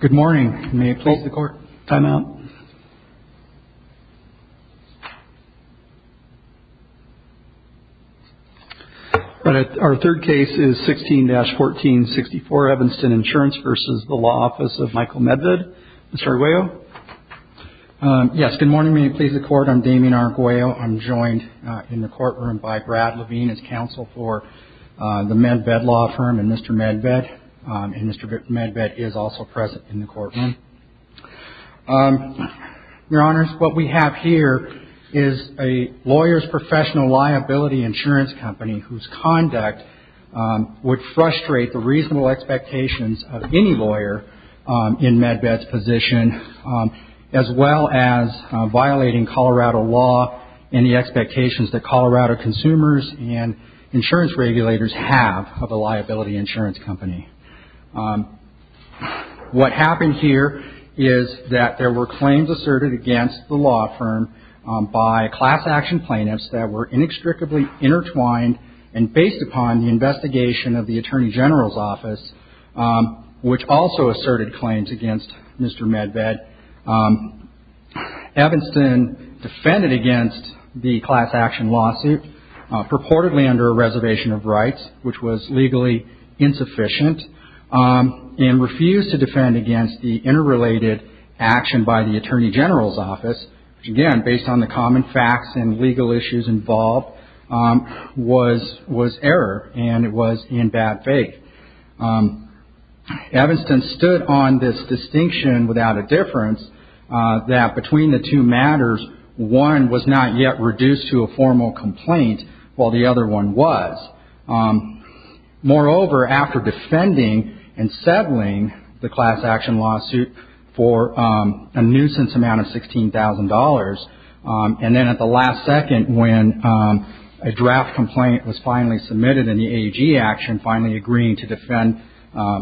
Good morning. May it please the court? Time out. Our third case is 16-1464 Evanston Insurance v. Law Office of Michael Medved. Mr. Arguello? Yes, good morning. May it please the court? I'm Damien Arguello. I'm joined in the courtroom by Brad Levine as counsel for the Medved Law Firm and Mr. Medved. And Mr. Medved is also present in the courtroom. Your Honors, what we have here is a lawyer's professional liability insurance company whose conduct would frustrate the reasonable expectations of any lawyer in Medved's position, as well as violating Colorado law and the expectations that Colorado consumers and insurance regulators have of a liability insurance company. What happened here is that there were claims asserted against the law firm by class action plaintiffs that were inextricably intertwined and based upon the investigation of the Attorney General's Office, which also asserted claims against Mr. Medved. Evanston defended against the class action lawsuit purportedly under a reservation of rights, which was legally insufficient, and refused to defend against the interrelated action by the Attorney General's Office, which again, based on the common facts and legal issues involved, was error and it was in bad faith. Evanston stood on this distinction without a difference that between the two matters, one was not yet reduced to a formal complaint while the other one was. Moreover, after defending and settling the class action lawsuit for a nuisance amount of $16,000, and then at the last second when a draft complaint was finally submitted and the AG action finally agreeing to defend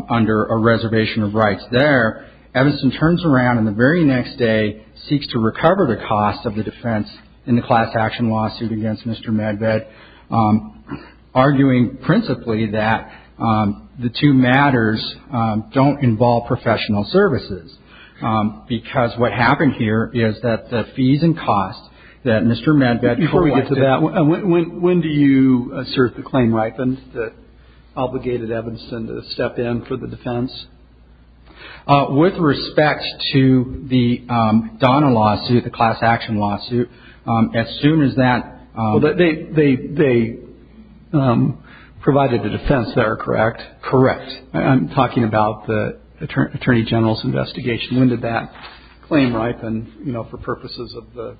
under a reservation of rights there, Evanston turns around and the very next day seeks to recover the cost of the defense in the class action lawsuit against Mr. Medved, arguing principally that the two matters don't involve professional services, because what happened here is that the fees and costs that Mr. Medved... Before we get to that, when do you assert the claim right that obligated Evanston to step in for the defense? With respect to the Donna lawsuit, the class action lawsuit, as soon as that... No, they provided the defense that are correct. Correct. I'm talking about the Attorney General's investigation. When did that claim ripen, you know, for purposes of the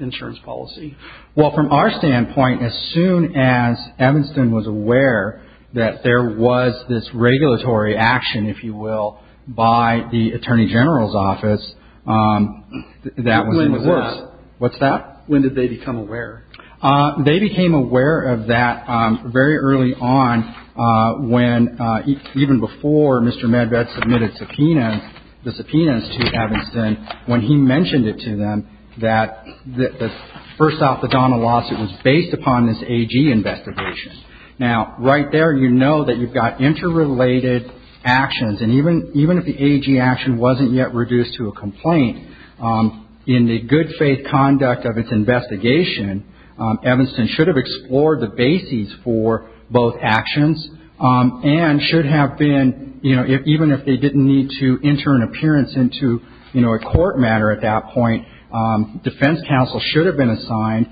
insurance policy? Well, from our standpoint, as soon as Evanston was aware that there was this regulatory action, if you will, by the Attorney General's office, that was... When was that? What's that? When did they become aware? They became aware of that very early on when even before Mr. Medved submitted subpoenas, the subpoenas to Evanston, when he mentioned it to them that first off, the Donna lawsuit was based upon this AG investigation. Now, right there, you know that you've got interrelated actions, and even if the AG action wasn't yet reduced to a complaint, in the good faith conduct of its investigation, Evanston should have explored the bases for both actions and should have been, you know, even if they didn't need to enter an appearance into, you know, a court matter at that point, defense counsel should have been assigned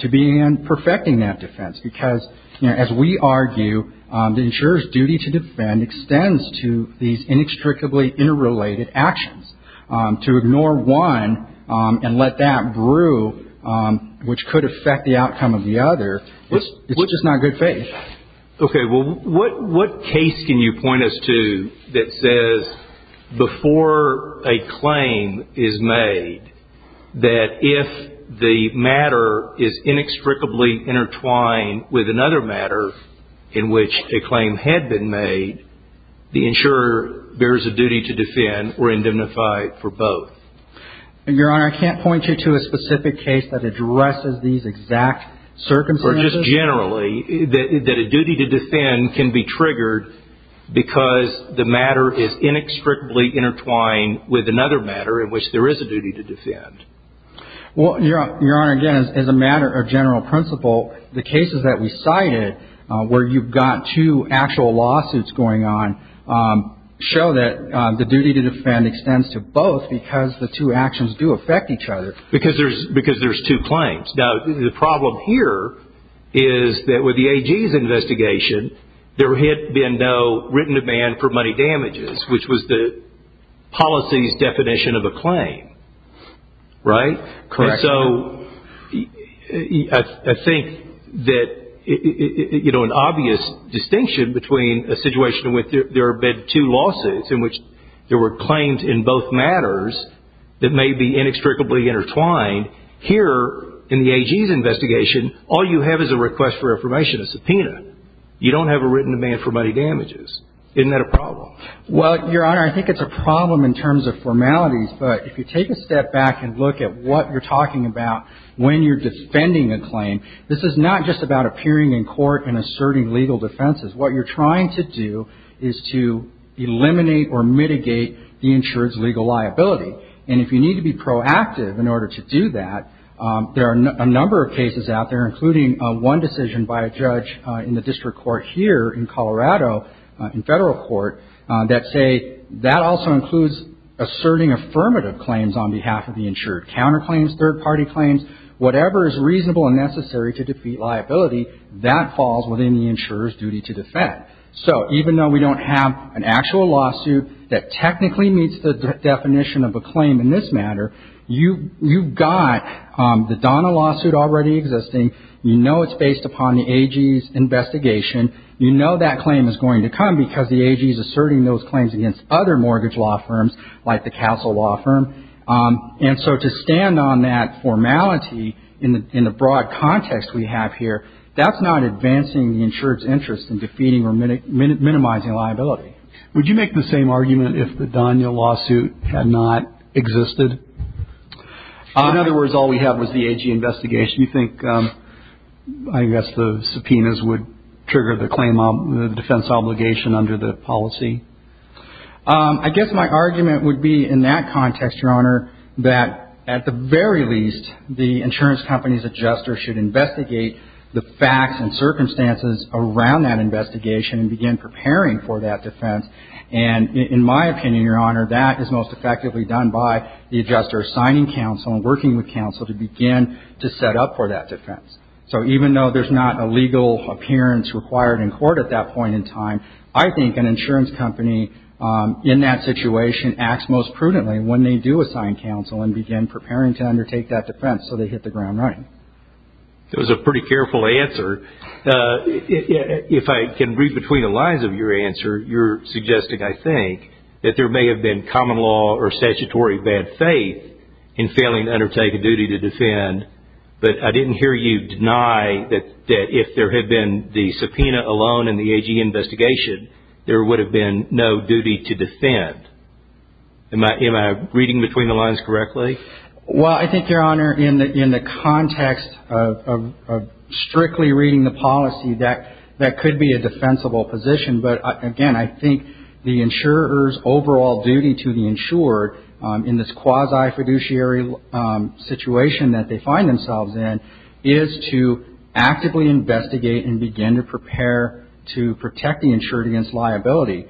to be in perfecting that defense because, you know, as we argue, the insurer's duty to defend extends to these inextricably interrelated actions. To ignore one and let that brew, which could affect the outcome of the other, which is not good faith. Okay. Well, what case can you point us to that says before a claim is made that if the matter is inextricably intertwined with another matter in which a claim had been made, the insurer bears a duty to defend or indemnify for both? Your Honor, I can't point you to a specific case that addresses these exact circumstances. Or just generally that a duty to defend can be triggered because the matter is inextricably intertwined with another matter in which there is a duty to defend. Well, Your Honor, again, as a matter of general principle, the cases that we cited where you've got two actual lawsuits going on show that the duty to defend extends to both because the two actions do affect each other. Because there's two claims. Now, the problem here is that with the AG's investigation, there had been no written demand for money damages, which was the policy's definition of a claim. Right? Correct. And so I think that an obvious distinction between a situation where there have been two lawsuits in which there were claims in both matters that may be inextricably intertwined, here in the AG's investigation, all you have is a request for affirmation, a subpoena. You don't have a written demand for money damages. Isn't that a problem? Well, Your Honor, I think it's a problem in terms of formalities. But if you take a step back and look at what you're talking about when you're defending a claim, this is not just about appearing in court and asserting legal defenses. What you're trying to do is to eliminate or mitigate the insured's legal liability. And if you need to be proactive in order to do that, there are a number of cases out there, including one decision by a judge in the district court here in Colorado, in federal court, that say that also includes asserting affirmative claims on behalf of the insured, counterclaims, third-party claims, whatever is reasonable and necessary to defeat liability, that falls within the insurer's duty to defend. So even though we don't have an actual lawsuit that technically meets the definition of a claim in this matter, you've got the Donna lawsuit already existing. You know it's based upon the AG's investigation. You know that claim is going to come because the AG is asserting those claims against other mortgage law firms, like the Castle Law Firm. And so to stand on that formality in the broad context we have here, that's not advancing the insured's interest in defeating or minimizing liability. Would you make the same argument if the Donna lawsuit had not existed? In other words, all we have was the AG investigation. You think, I guess, the subpoenas would trigger the defense obligation under the policy? I guess my argument would be in that context, Your Honor, that at the very least the insurance company's adjuster should investigate the facts and circumstances around that investigation and begin preparing for that defense. And in my opinion, Your Honor, that is most effectively done by the adjuster signing counsel and working with counsel to begin to set up for that defense. So even though there's not a legal appearance required in court at that point in time, I think an insurance company in that situation acts most prudently when they do assign counsel and begin preparing to undertake that defense so they hit the ground running. That was a pretty careful answer. If I can read between the lines of your answer, you're suggesting, I think, that there may have been common law or statutory bad faith in failing to undertake a duty to defend, but I didn't hear you deny that if there had been the subpoena alone in the AG investigation, there would have been no duty to defend. Am I reading between the lines correctly? Well, I think, Your Honor, in the context of strictly reading the policy, that could be a defensible position. But again, I think the insurer's overall duty to the insured in this quasi-fiduciary situation that they find themselves in is to actively investigate and begin to prepare to protect the insured against liability.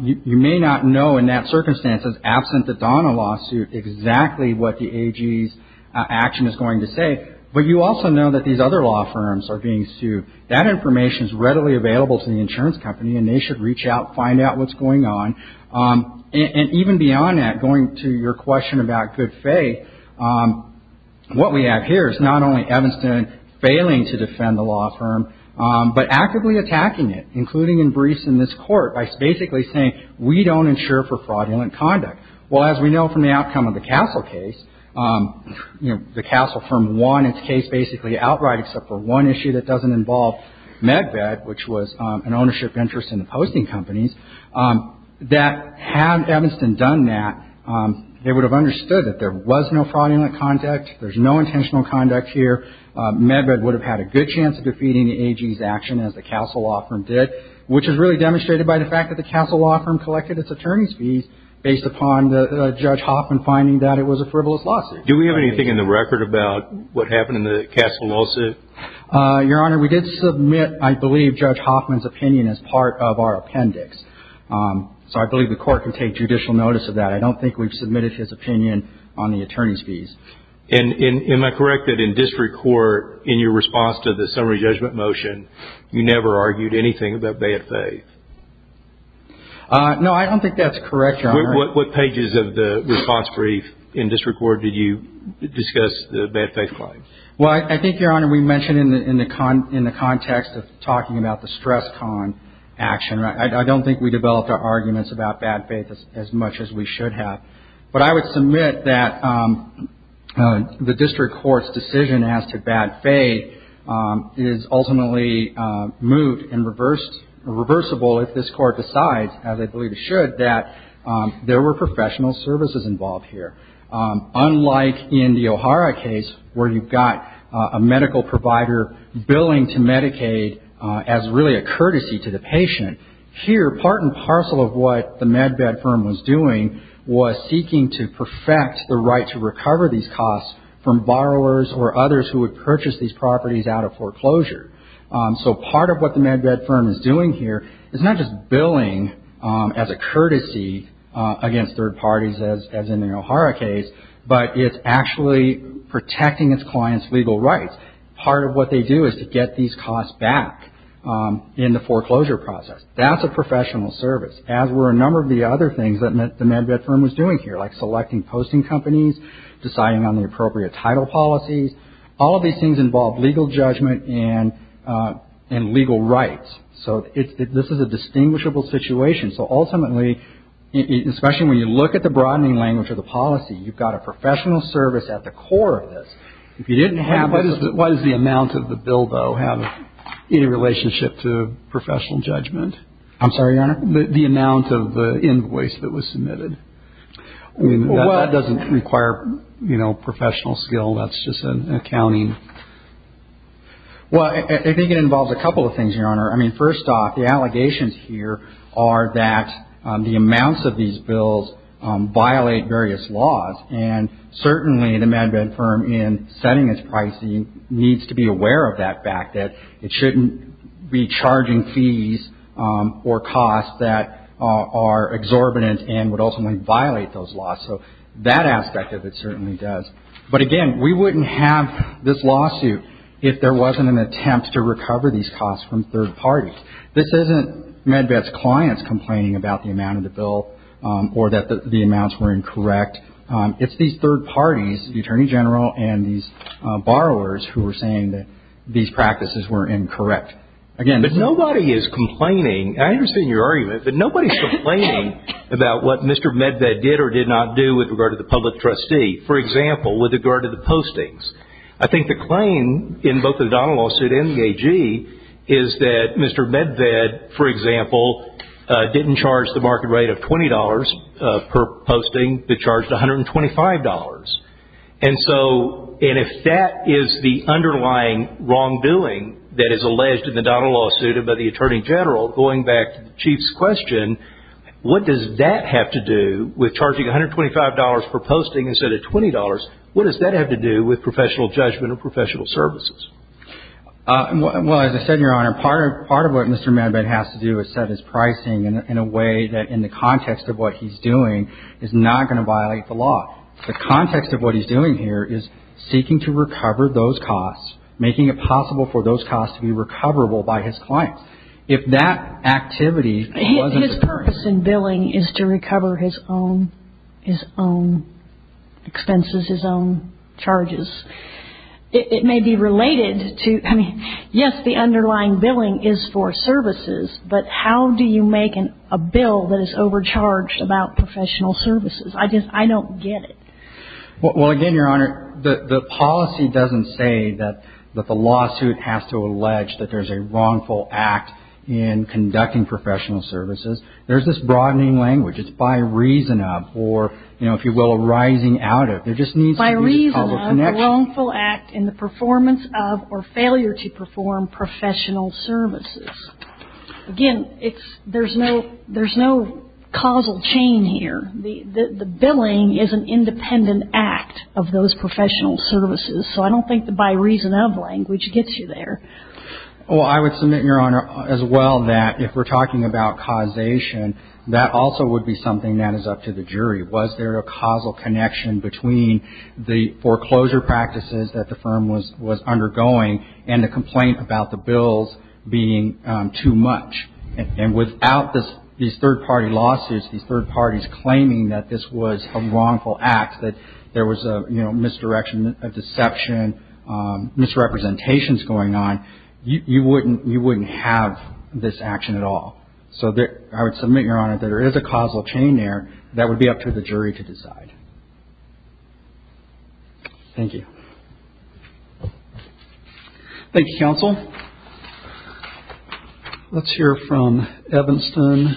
You may not know in that circumstance, as absent the Donna lawsuit, exactly what the AG's action is going to say, but you also know that these other law firms are being sued. That information is readily available to the insurance company, and they should reach out, find out what's going on. And even beyond that, going to your question about good faith, what we have here is not only Evanston failing to defend the law firm, but actively attacking it, including in briefs in this Court, by basically saying, we don't insure for fraudulent conduct. Well, as we know from the outcome of the Castle case, you know, the Castle firm won its case basically outright except for one issue that doesn't involve Medved, which was an ownership interest in the posting companies. Had Evanston done that, they would have understood that there was no fraudulent conduct. There's no intentional conduct here. Medved would have had a good chance of defeating the AG's action, as the Castle law firm did, which is really demonstrated by the fact that the Castle law firm collected its attorney's fees based upon Judge Hoffman finding that it was a frivolous lawsuit. Do we have anything in the record about what happened in the Castle lawsuit? Your Honor, we did submit, I believe, Judge Hoffman's opinion as part of our appendix. So I believe the Court can take judicial notice of that. I don't think we've submitted his opinion on the attorney's fees. And am I correct that in district court, in your response to the summary judgment motion, you never argued anything about bad faith? No, I don't think that's correct, Your Honor. What pages of the response brief in district court did you discuss the bad faith claim? Well, I think, Your Honor, we mentioned in the context of talking about the stress con action, I don't think we developed our arguments about bad faith as much as we should have. But I would submit that the district court's decision as to bad faith is ultimately moot and reversible if this Court decides, as I believe it should, that there were professional services involved here. Unlike in the O'Hara case where you've got a medical provider billing to Medicaid as really a courtesy to the patient, here part and parcel of what the MedBed firm was doing was seeking to perfect the right to recover these costs from borrowers or others who would purchase these properties out of foreclosure. So part of what the MedBed firm is doing here is not just billing as a courtesy against third parties, as in the O'Hara case, but it's actually protecting its clients' legal rights. Part of what they do is to get these costs back in the foreclosure process. That's a professional service, as were a number of the other things that the MedBed firm was doing here, like selecting posting companies, deciding on the appropriate title policies. All of these things involve legal judgment and legal rights. So this is a distinguishable situation. So ultimately, especially when you look at the broadening language of the policy, you've got a professional service at the core of this. If you didn't have the... And what is the amount of the bill, though, having any relationship to professional judgment? I'm sorry, Your Honor? The amount of the invoice that was submitted. Well, what... I mean, that doesn't require, you know, professional skill. That's just an accounting... Well, I think it involves a couple of things, Your Honor. I mean, first off, the allegations here are that the amounts of these bills violate various laws, and certainly the MedBed firm in setting its pricing needs to be aware of that fact, that it shouldn't be charging fees or costs that are exorbitant and would ultimately violate those laws. So that aspect of it certainly does. But again, we wouldn't have this lawsuit if there wasn't an attempt to recover these costs from third parties. This isn't MedBed's clients complaining about the amount of the bill or that the amounts were incorrect. It's these third parties, the Attorney General and these borrowers, who are saying that these practices were incorrect. But nobody is complaining. I understand your argument, but nobody's complaining about what Mr. MedBed did or did not do with regard to the public trustee. For example, with regard to the postings. I think the claim in both the Donnell lawsuit and the AG is that Mr. MedBed, for example, didn't charge the market rate of $20 per posting, but charged $125. And so if that is the underlying wrongdoing that is alleged in the Donnell lawsuit by the Attorney General, going back to the Chief's question, what does that have to do with charging $125 per posting instead of $20? What does that have to do with professional judgment or professional services? Well, as I said, Your Honor, part of what Mr. MedBed has to do is set his pricing in a way that, in the context of what he's doing, is not going to violate the law. The context of what he's doing here is seeking to recover those costs, making it possible for those costs to be recoverable by his clients. If that activity wasn't the case. His purpose in billing is to recover his own expenses, his own charges. It may be related to, I mean, yes, the underlying billing is for services, but how do you make a bill that is overcharged about professional services? I don't get it. Well, again, Your Honor, the policy doesn't say that the lawsuit has to allege that there's a wrongful act in conducting professional services. There's this broadening language. It's by reason of or, you know, if you will, arising out of. There just needs to be a causal connection. By reason of a wrongful act in the performance of or failure to perform professional services. Again, there's no causal chain here. The billing is an independent act of those professional services. So I don't think the by reason of language gets you there. Well, I would submit, Your Honor, as well, that if we're talking about causation, that also would be something that is up to the jury. Was there a causal connection between the foreclosure practices that the firm was undergoing and the complaint about the bills being too much? And without these third party lawsuits, these third parties claiming that this was a wrongful act, that there was a misdirection, a deception, misrepresentations going on, you wouldn't have this action at all. So I would submit, Your Honor, that there is a causal chain there. That would be up to the jury to decide. Thank you. Thank you, counsel. Let's hear from Evanston.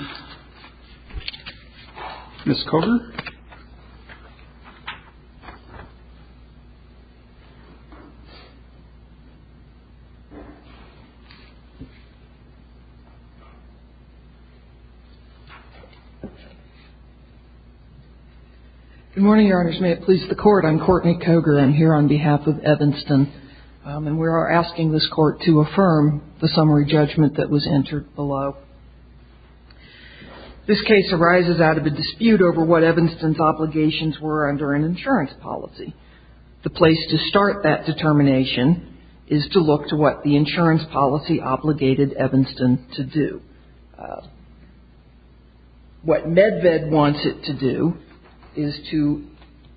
Ms. Cogar. Good morning, Your Honors. May it please the Court. I'm Courtney Cogar. I'm here on behalf of Evanston. And we are asking this Court to affirm the summary judgment that was entered below. This case arises out of a dispute over what Evanston's obligations were under an insurance policy. The place to start that determination is to look to what the insurance policy obligated Evanston to do. What MedVed wants it to do is to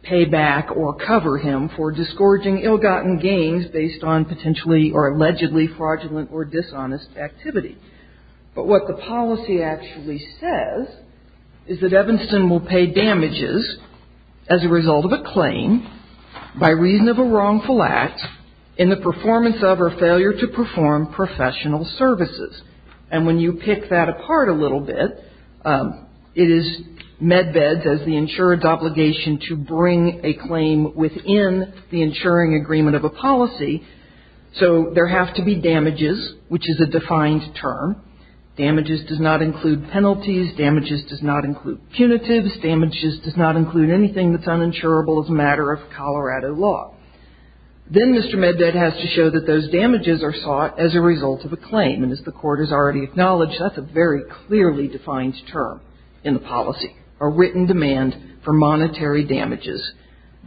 pay back or cover him for discouraging ill-gotten gains based on potentially or allegedly fraudulent or dishonest activity. But what the policy actually says is that Evanston will pay damages as a result of a claim by reason of a wrongful act in the performance of or failure to perform professional services. And when you pick that apart a little bit, it is MedVed's as the insurer's obligation to bring a claim within the insuring agreement of a policy. So there have to be damages, which is a defined term. Damages does not include penalties. Damages does not include punitives. Damages does not include anything that's uninsurable as a matter of Colorado law. Then Mr. MedVed has to show that those damages are sought as a result of a claim. And as the Court has already acknowledged, that's a very clearly defined term in the policy, a written demand for monetary damages.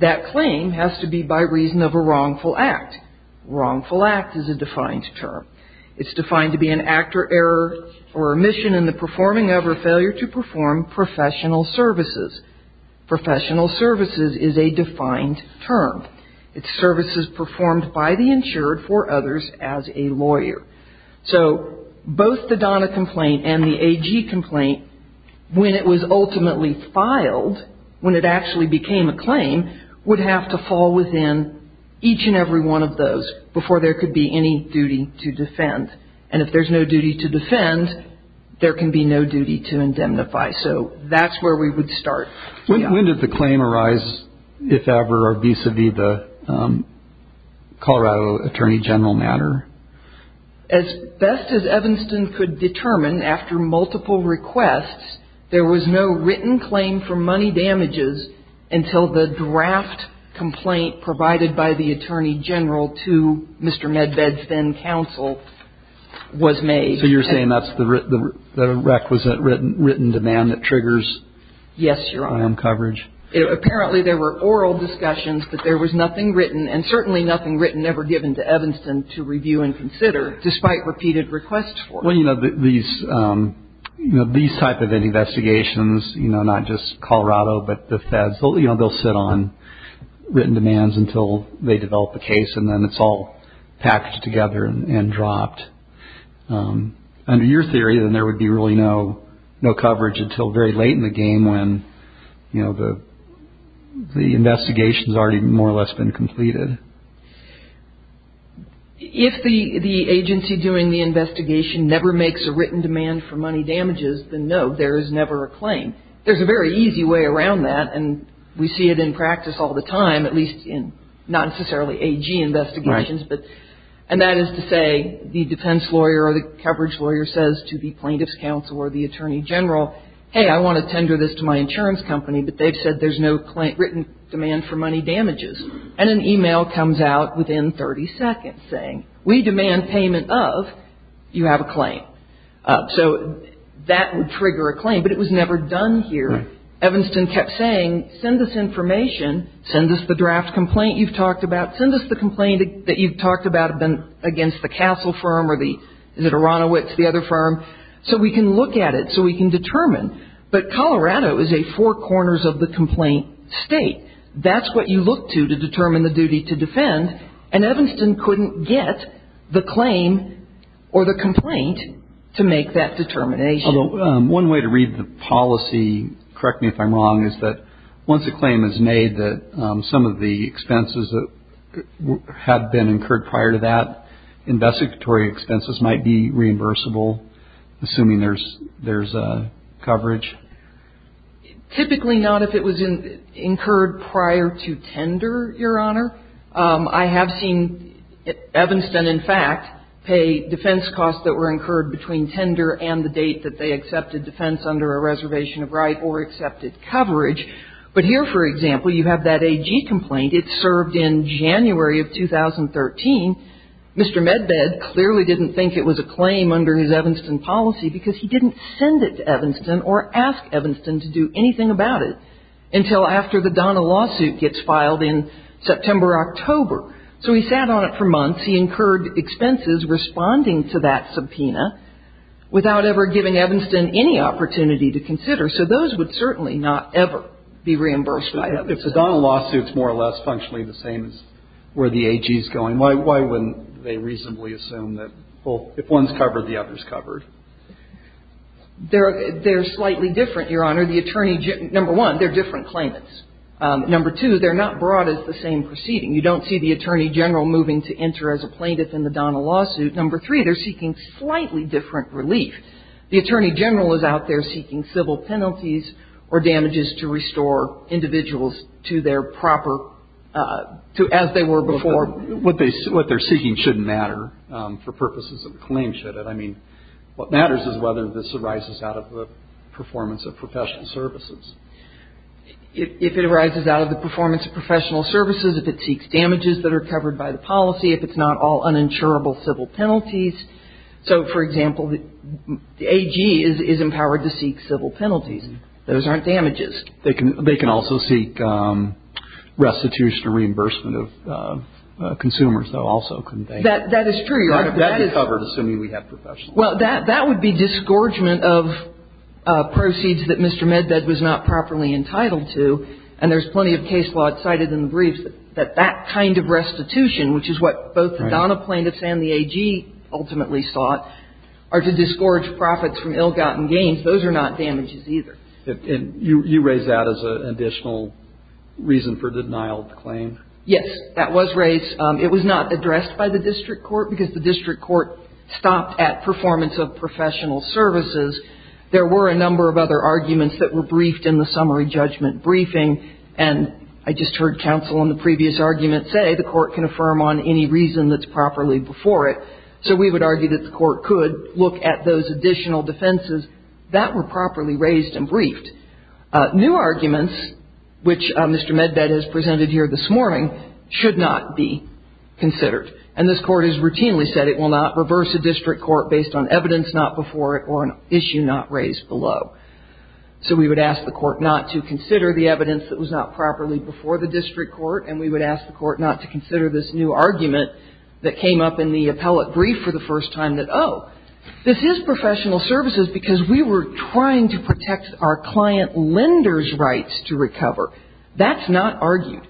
That claim has to be by reason of a wrongful act. Wrongful act is a defined term. It's defined to be an act or error or omission in the performing of or failure to perform professional services. Professional services is a defined term. It's services performed by the insured for others as a lawyer. So both the DANA complaint and the AG complaint, when it was ultimately filed, when it actually became a claim, would have to fall within each and every one of those before there could be any duty to defend. And if there's no duty to defend, there can be no duty to indemnify. So that's where we would start. When did the claim arise, if ever, or vis-a-vis the Colorado Attorney General matter? As best as Evanston could determine, after multiple requests, there was no written claim for money damages until the draft complaint provided by the Attorney General to Mr. MedVed's then counsel was made. So you're saying that's the requisite written demand that triggers I.M. coverage? Yes, Your Honor. Apparently there were oral discussions, but there was nothing written, and certainly nothing written ever given to Evanston to review and consider, despite repeated requests for it. Well, you know, these type of investigations, you know, not just Colorado, but the feds, you know, they'll sit on written demands until they develop a case, and then it's all packed together and dropped. Under your theory, then there would be really no coverage until very late in the game when, you know, the investigation's already more or less been completed. If the agency doing the investigation never makes a written demand for money damages, then no, there is never a claim. There's a very easy way around that, and we see it in practice all the time, at least in not necessarily A.G. investigations. Right. And that is to say the defense lawyer or the coverage lawyer says to the plaintiff's counsel or the Attorney General, hey, I want to tender this to my insurance company, but they've said there's no written demand for money damages. And an e-mail comes out within 30 seconds saying, we demand payment of, you have a claim. So that would trigger a claim, but it was never done here. Right. Evanston kept saying, send us information, send us the draft complaint you've talked about, send us the complaint that you've talked about against the Castle firm or the, is it Aronowitz, the other firm, so we can look at it, so we can determine. But Colorado is a four corners of the complaint state. That's what you look to to determine the duty to defend, and Evanston couldn't get the claim or the complaint to make that determination. One way to read the policy, correct me if I'm wrong, is that once a claim is made that some of the expenses that had been incurred prior to that, investigatory expenses might be reimbursable, assuming there's coverage? Typically not if it was incurred prior to tender, Your Honor. I have seen Evanston, in fact, pay defense costs that were incurred between tender and the date that they accepted defense under a reservation of right or accepted coverage. But here, for example, you have that AG complaint. It served in January of 2013. Mr. Medved clearly didn't think it was a claim under his Evanston policy because he didn't send it to Evanston or ask Evanston to do anything about it until after the Donna lawsuit gets filed in September or October. So he sat on it for months. He incurred expenses responding to that subpoena without ever giving Evanston any opportunity to consider. So those would certainly not ever be reimbursed by Evanston. If the Donna lawsuit is more or less functionally the same as where the AG is going, why wouldn't they reasonably assume that, well, if one is covered, the other is covered? They're slightly different, Your Honor. The Attorney General – number one, they're different claimants. Number two, they're not brought as the same proceeding. You don't see the Attorney General moving to enter as a plaintiff in the Donna lawsuit. Number three, they're seeking slightly different relief. The Attorney General is out there seeking civil penalties or damages to restore individuals to their proper – to as they were before. I mean, what matters is whether this arises out of the performance of professional services. If it arises out of the performance of professional services, if it seeks damages that are covered by the policy, if it's not all uninsurable civil penalties. So, for example, the AG is empowered to seek civil penalties. Those aren't damages. They can also seek restitution or reimbursement of consumers, though, also, couldn't they? That is true, Your Honor. That is covered, assuming we have professional. Well, that would be disgorgement of proceeds that Mr. Medved was not properly entitled to. And there's plenty of case law cited in the briefs that that kind of restitution, which is what both the Donna plaintiffs and the AG ultimately sought, are to disgorge profits from ill-gotten gains. Those are not damages either. And you raise that as an additional reason for denial of the claim? Yes, that was raised. It was not addressed by the district court because the district court stopped at performance of professional services. There were a number of other arguments that were briefed in the summary judgment briefing. And I just heard counsel in the previous argument say the court can affirm on any reason that's properly before it. So we would argue that the court could look at those additional defenses that were properly raised and briefed. New arguments, which Mr. Medved has presented here this morning, should not be considered. And this court has routinely said it will not reverse a district court based on evidence not before it or an issue not raised below. So we would ask the court not to consider the evidence that was not properly before the district court. And we would ask the court not to consider this new argument that came up in the appellate brief for the first time that, oh, this is professional services because we were trying to protect our client lender's rights to recover. That's not argued.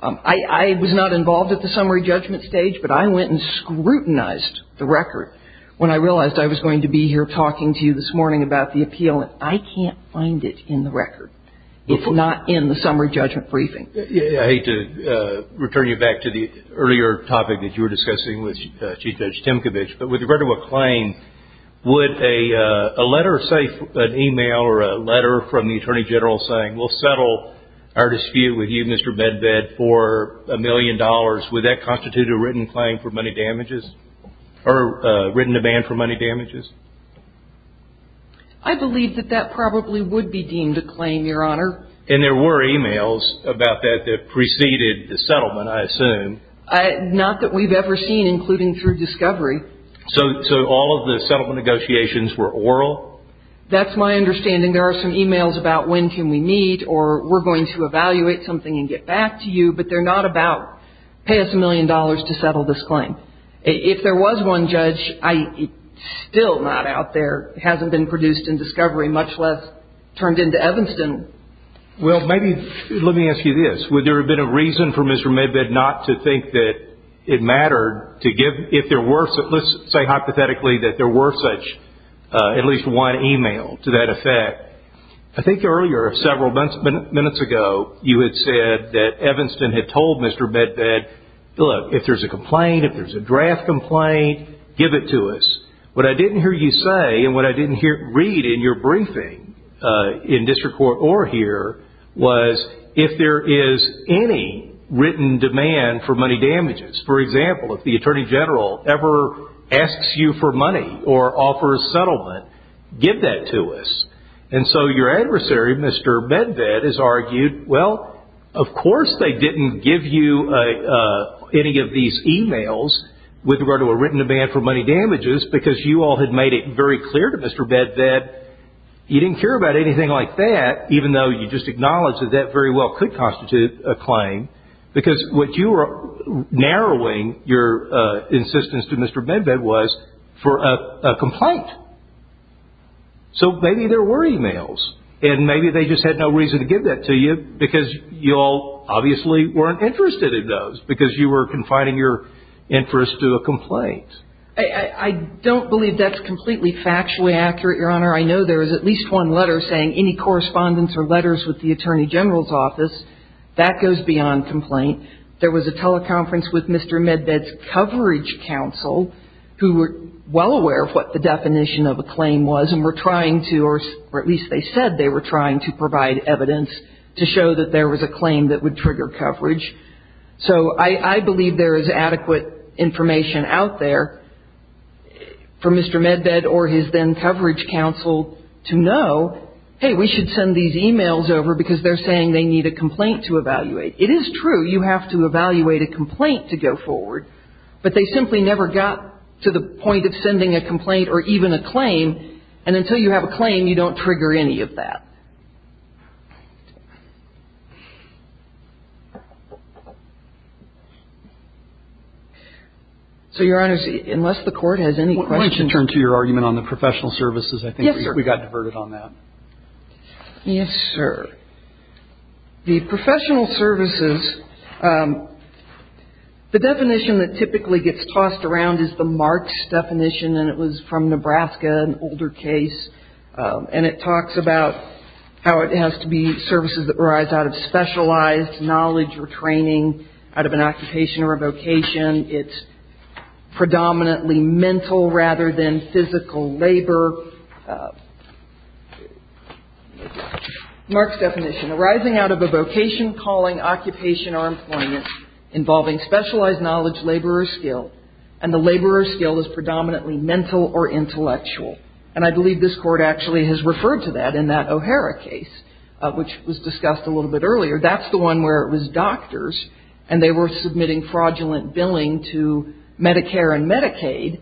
I was not involved at the summary judgment stage, but I went and scrutinized the record when I realized I was going to be here talking to you this morning about the appeal, and I can't find it in the record. It's not in the summary judgment briefing. I hate to return you back to the earlier topic that you were discussing with Chief Judge Timkovich, but with regard to a claim, would a letter, say, an e-mail or a letter from the Attorney General saying, we'll settle our dispute with you, Mr. Medved, for a million dollars, would that constitute a written claim for money damages or a written demand for money damages? I believe that that probably would be deemed a claim, Your Honor. And there were e-mails about that that preceded the settlement, I assume. Not that we've ever seen, including through discovery. So all of the settlement negotiations were oral? That's my understanding. There are some e-mails about when can we meet or we're going to evaluate something and get back to you, but they're not about pay us a million dollars to settle this claim. If there was one, Judge, it's still not out there. It hasn't been produced in discovery, much less turned into Evanston. Well, maybe, let me ask you this. Would there have been a reason for Mr. Medved not to think that it mattered to give, if there were such, let's say hypothetically that there were such, at least one e-mail to that effect. I think earlier, several minutes ago, you had said that Evanston had told Mr. Medved, look, if there's a complaint, if there's a draft complaint, give it to us. What I didn't hear you say and what I didn't read in your briefing, in district court or here, was if there is any written demand for money damages. For example, if the Attorney General ever asks you for money or offers settlement, give that to us. And so your adversary, Mr. Medved, has argued, well, of course they didn't give you any of these e-mails with regard to a written demand for money damages because you all had made it very clear to Mr. Medved that you didn't care about anything like that, even though you just acknowledged that that very well could constitute a claim, because what you were narrowing your insistence to Mr. Medved was for a complaint. So maybe there were e-mails. And maybe they just had no reason to give that to you because you all obviously weren't interested in those because you were confining your interest to a complaint. I don't believe that's completely factually accurate, Your Honor. I know there was at least one letter saying any correspondence or letters with the Attorney General's office. That goes beyond complaint. There was a teleconference with Mr. Medved's coverage counsel, who were well aware of what the definition of a claim was and were trying to, or at least they said they were trying to provide evidence to show that there was a claim that would trigger coverage. So I believe there is adequate information out there for Mr. Medved or his then-coverage counsel to know, hey, we should send these e-mails over because they're saying they need a complaint to evaluate. It is true you have to evaluate a complaint to go forward, but they simply never got to the point of sending a complaint or even a claim. And until you have a claim, you don't trigger any of that. So, Your Honors, unless the Court has any questions. I want to turn to your argument on the professional services. Yes, sir. I think we got diverted on that. Yes, sir. The professional services, the definition that typically gets tossed around is the marks definition, and it was from Nebraska, an older case, and it talks about how it has to be services that arise out of specialized knowledge or training, out of an occupation or a vocation. It's predominantly mental rather than physical labor. Mark's definition, arising out of a vocation, calling, occupation, or employment involving specialized knowledge, labor, or skill, and the labor or skill is predominantly mental or intellectual. And I believe this Court actually has referred to that in that O'Hara case, which was discussed a little bit earlier. That's the one where it was doctors, and they were submitting fraudulent billing to Medicare and Medicaid,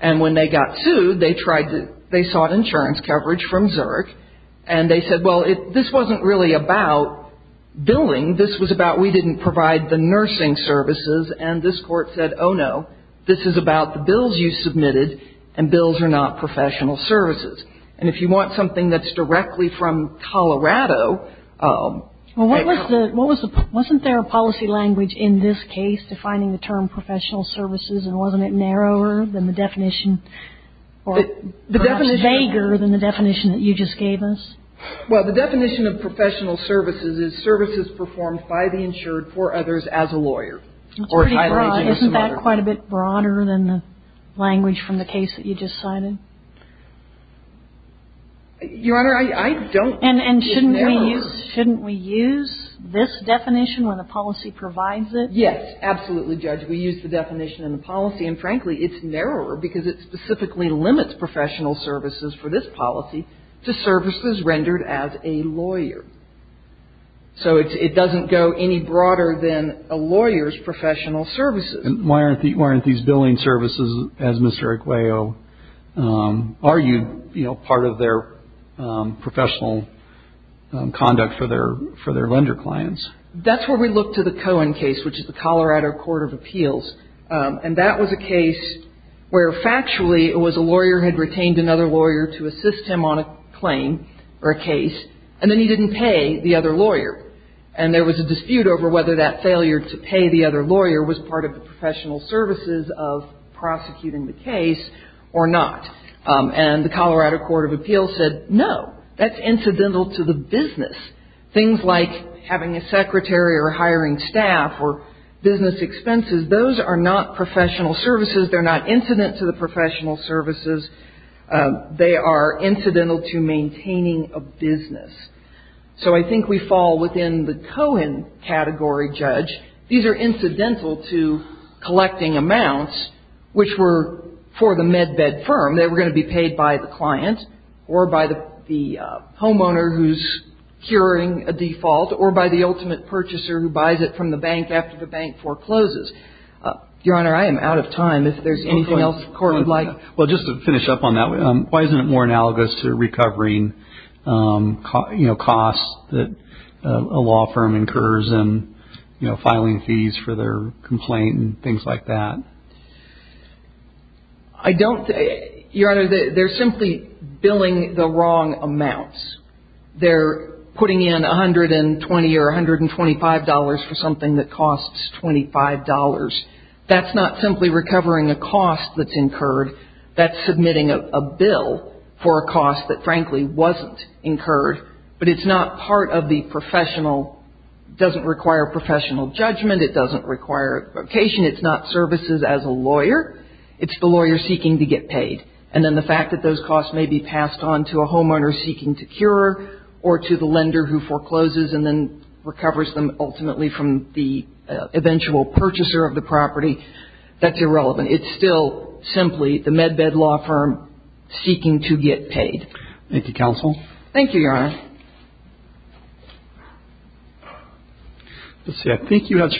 and when they got sued, they sought insurance coverage from Zurich, and they said, well, this wasn't really about billing. This was about we didn't provide the nursing services, and this Court said, oh, no, this is about the bills you submitted, and bills are not professional services. And if you want something that's directly from Colorado. Well, wasn't there a policy language in this case defining the term professional services, and wasn't it narrower than the definition, or perhaps vaguer than the definition that you just gave us? Well, the definition of professional services is services performed by the insured for others as a lawyer. Isn't that quite a bit broader than the language from the case that you just cited? Your Honor, I don't. And shouldn't we use this definition when the policy provides it? Yes, absolutely, Judge. We use the definition in the policy, and frankly, it's narrower, because it specifically limits professional services for this policy to services rendered as a lawyer. So it doesn't go any broader than a lawyer's professional services. And why aren't these billing services, as Ms. Eriqueo argued, you know, part of their professional conduct for their lender clients? That's where we look to the Cohen case, which is the Colorado Court of Appeals. And that was a case where factually it was a lawyer who had retained another lawyer to assist him on a claim or a case, and then he didn't pay the other lawyer. And there was a dispute over whether that failure to pay the other lawyer was part of the professional services of prosecuting the case or not. And the Colorado Court of Appeals said no, that's incidental to the business. Things like having a secretary or hiring staff or business expenses, those are not professional services. They're not incident to the professional services. They are incidental to maintaining a business. So I think we fall within the Cohen category, Judge. These are incidental to collecting amounts, which were for the med-bed firm. They were going to be paid by the client or by the homeowner who's curing a default or by the ultimate purchaser who buys it from the bank after the bank forecloses. Your Honor, I am out of time. If there's anything else the Court would like. Well, just to finish up on that, why isn't it more analogous to recovering, you know, costs that a law firm incurs in, you know, filing fees for their complaint and things like that? I don't – Your Honor, they're simply billing the wrong amounts. They're putting in $120 or $125 for something that costs $25. That's not simply recovering a cost that's incurred. That's submitting a bill for a cost that, frankly, wasn't incurred. But it's not part of the professional – doesn't require professional judgment. It doesn't require a vocation. It's not services as a lawyer. It's the lawyer seeking to get paid. And then the fact that those costs may be passed on to a homeowner seeking to cure or to the lender who forecloses and then recovers them ultimately from the eventual purchaser of the property, that's irrelevant. It's still simply the med-bed law firm seeking to get paid. Thank you, counsel. Thank you, Your Honor. Let's see. Thank you very much.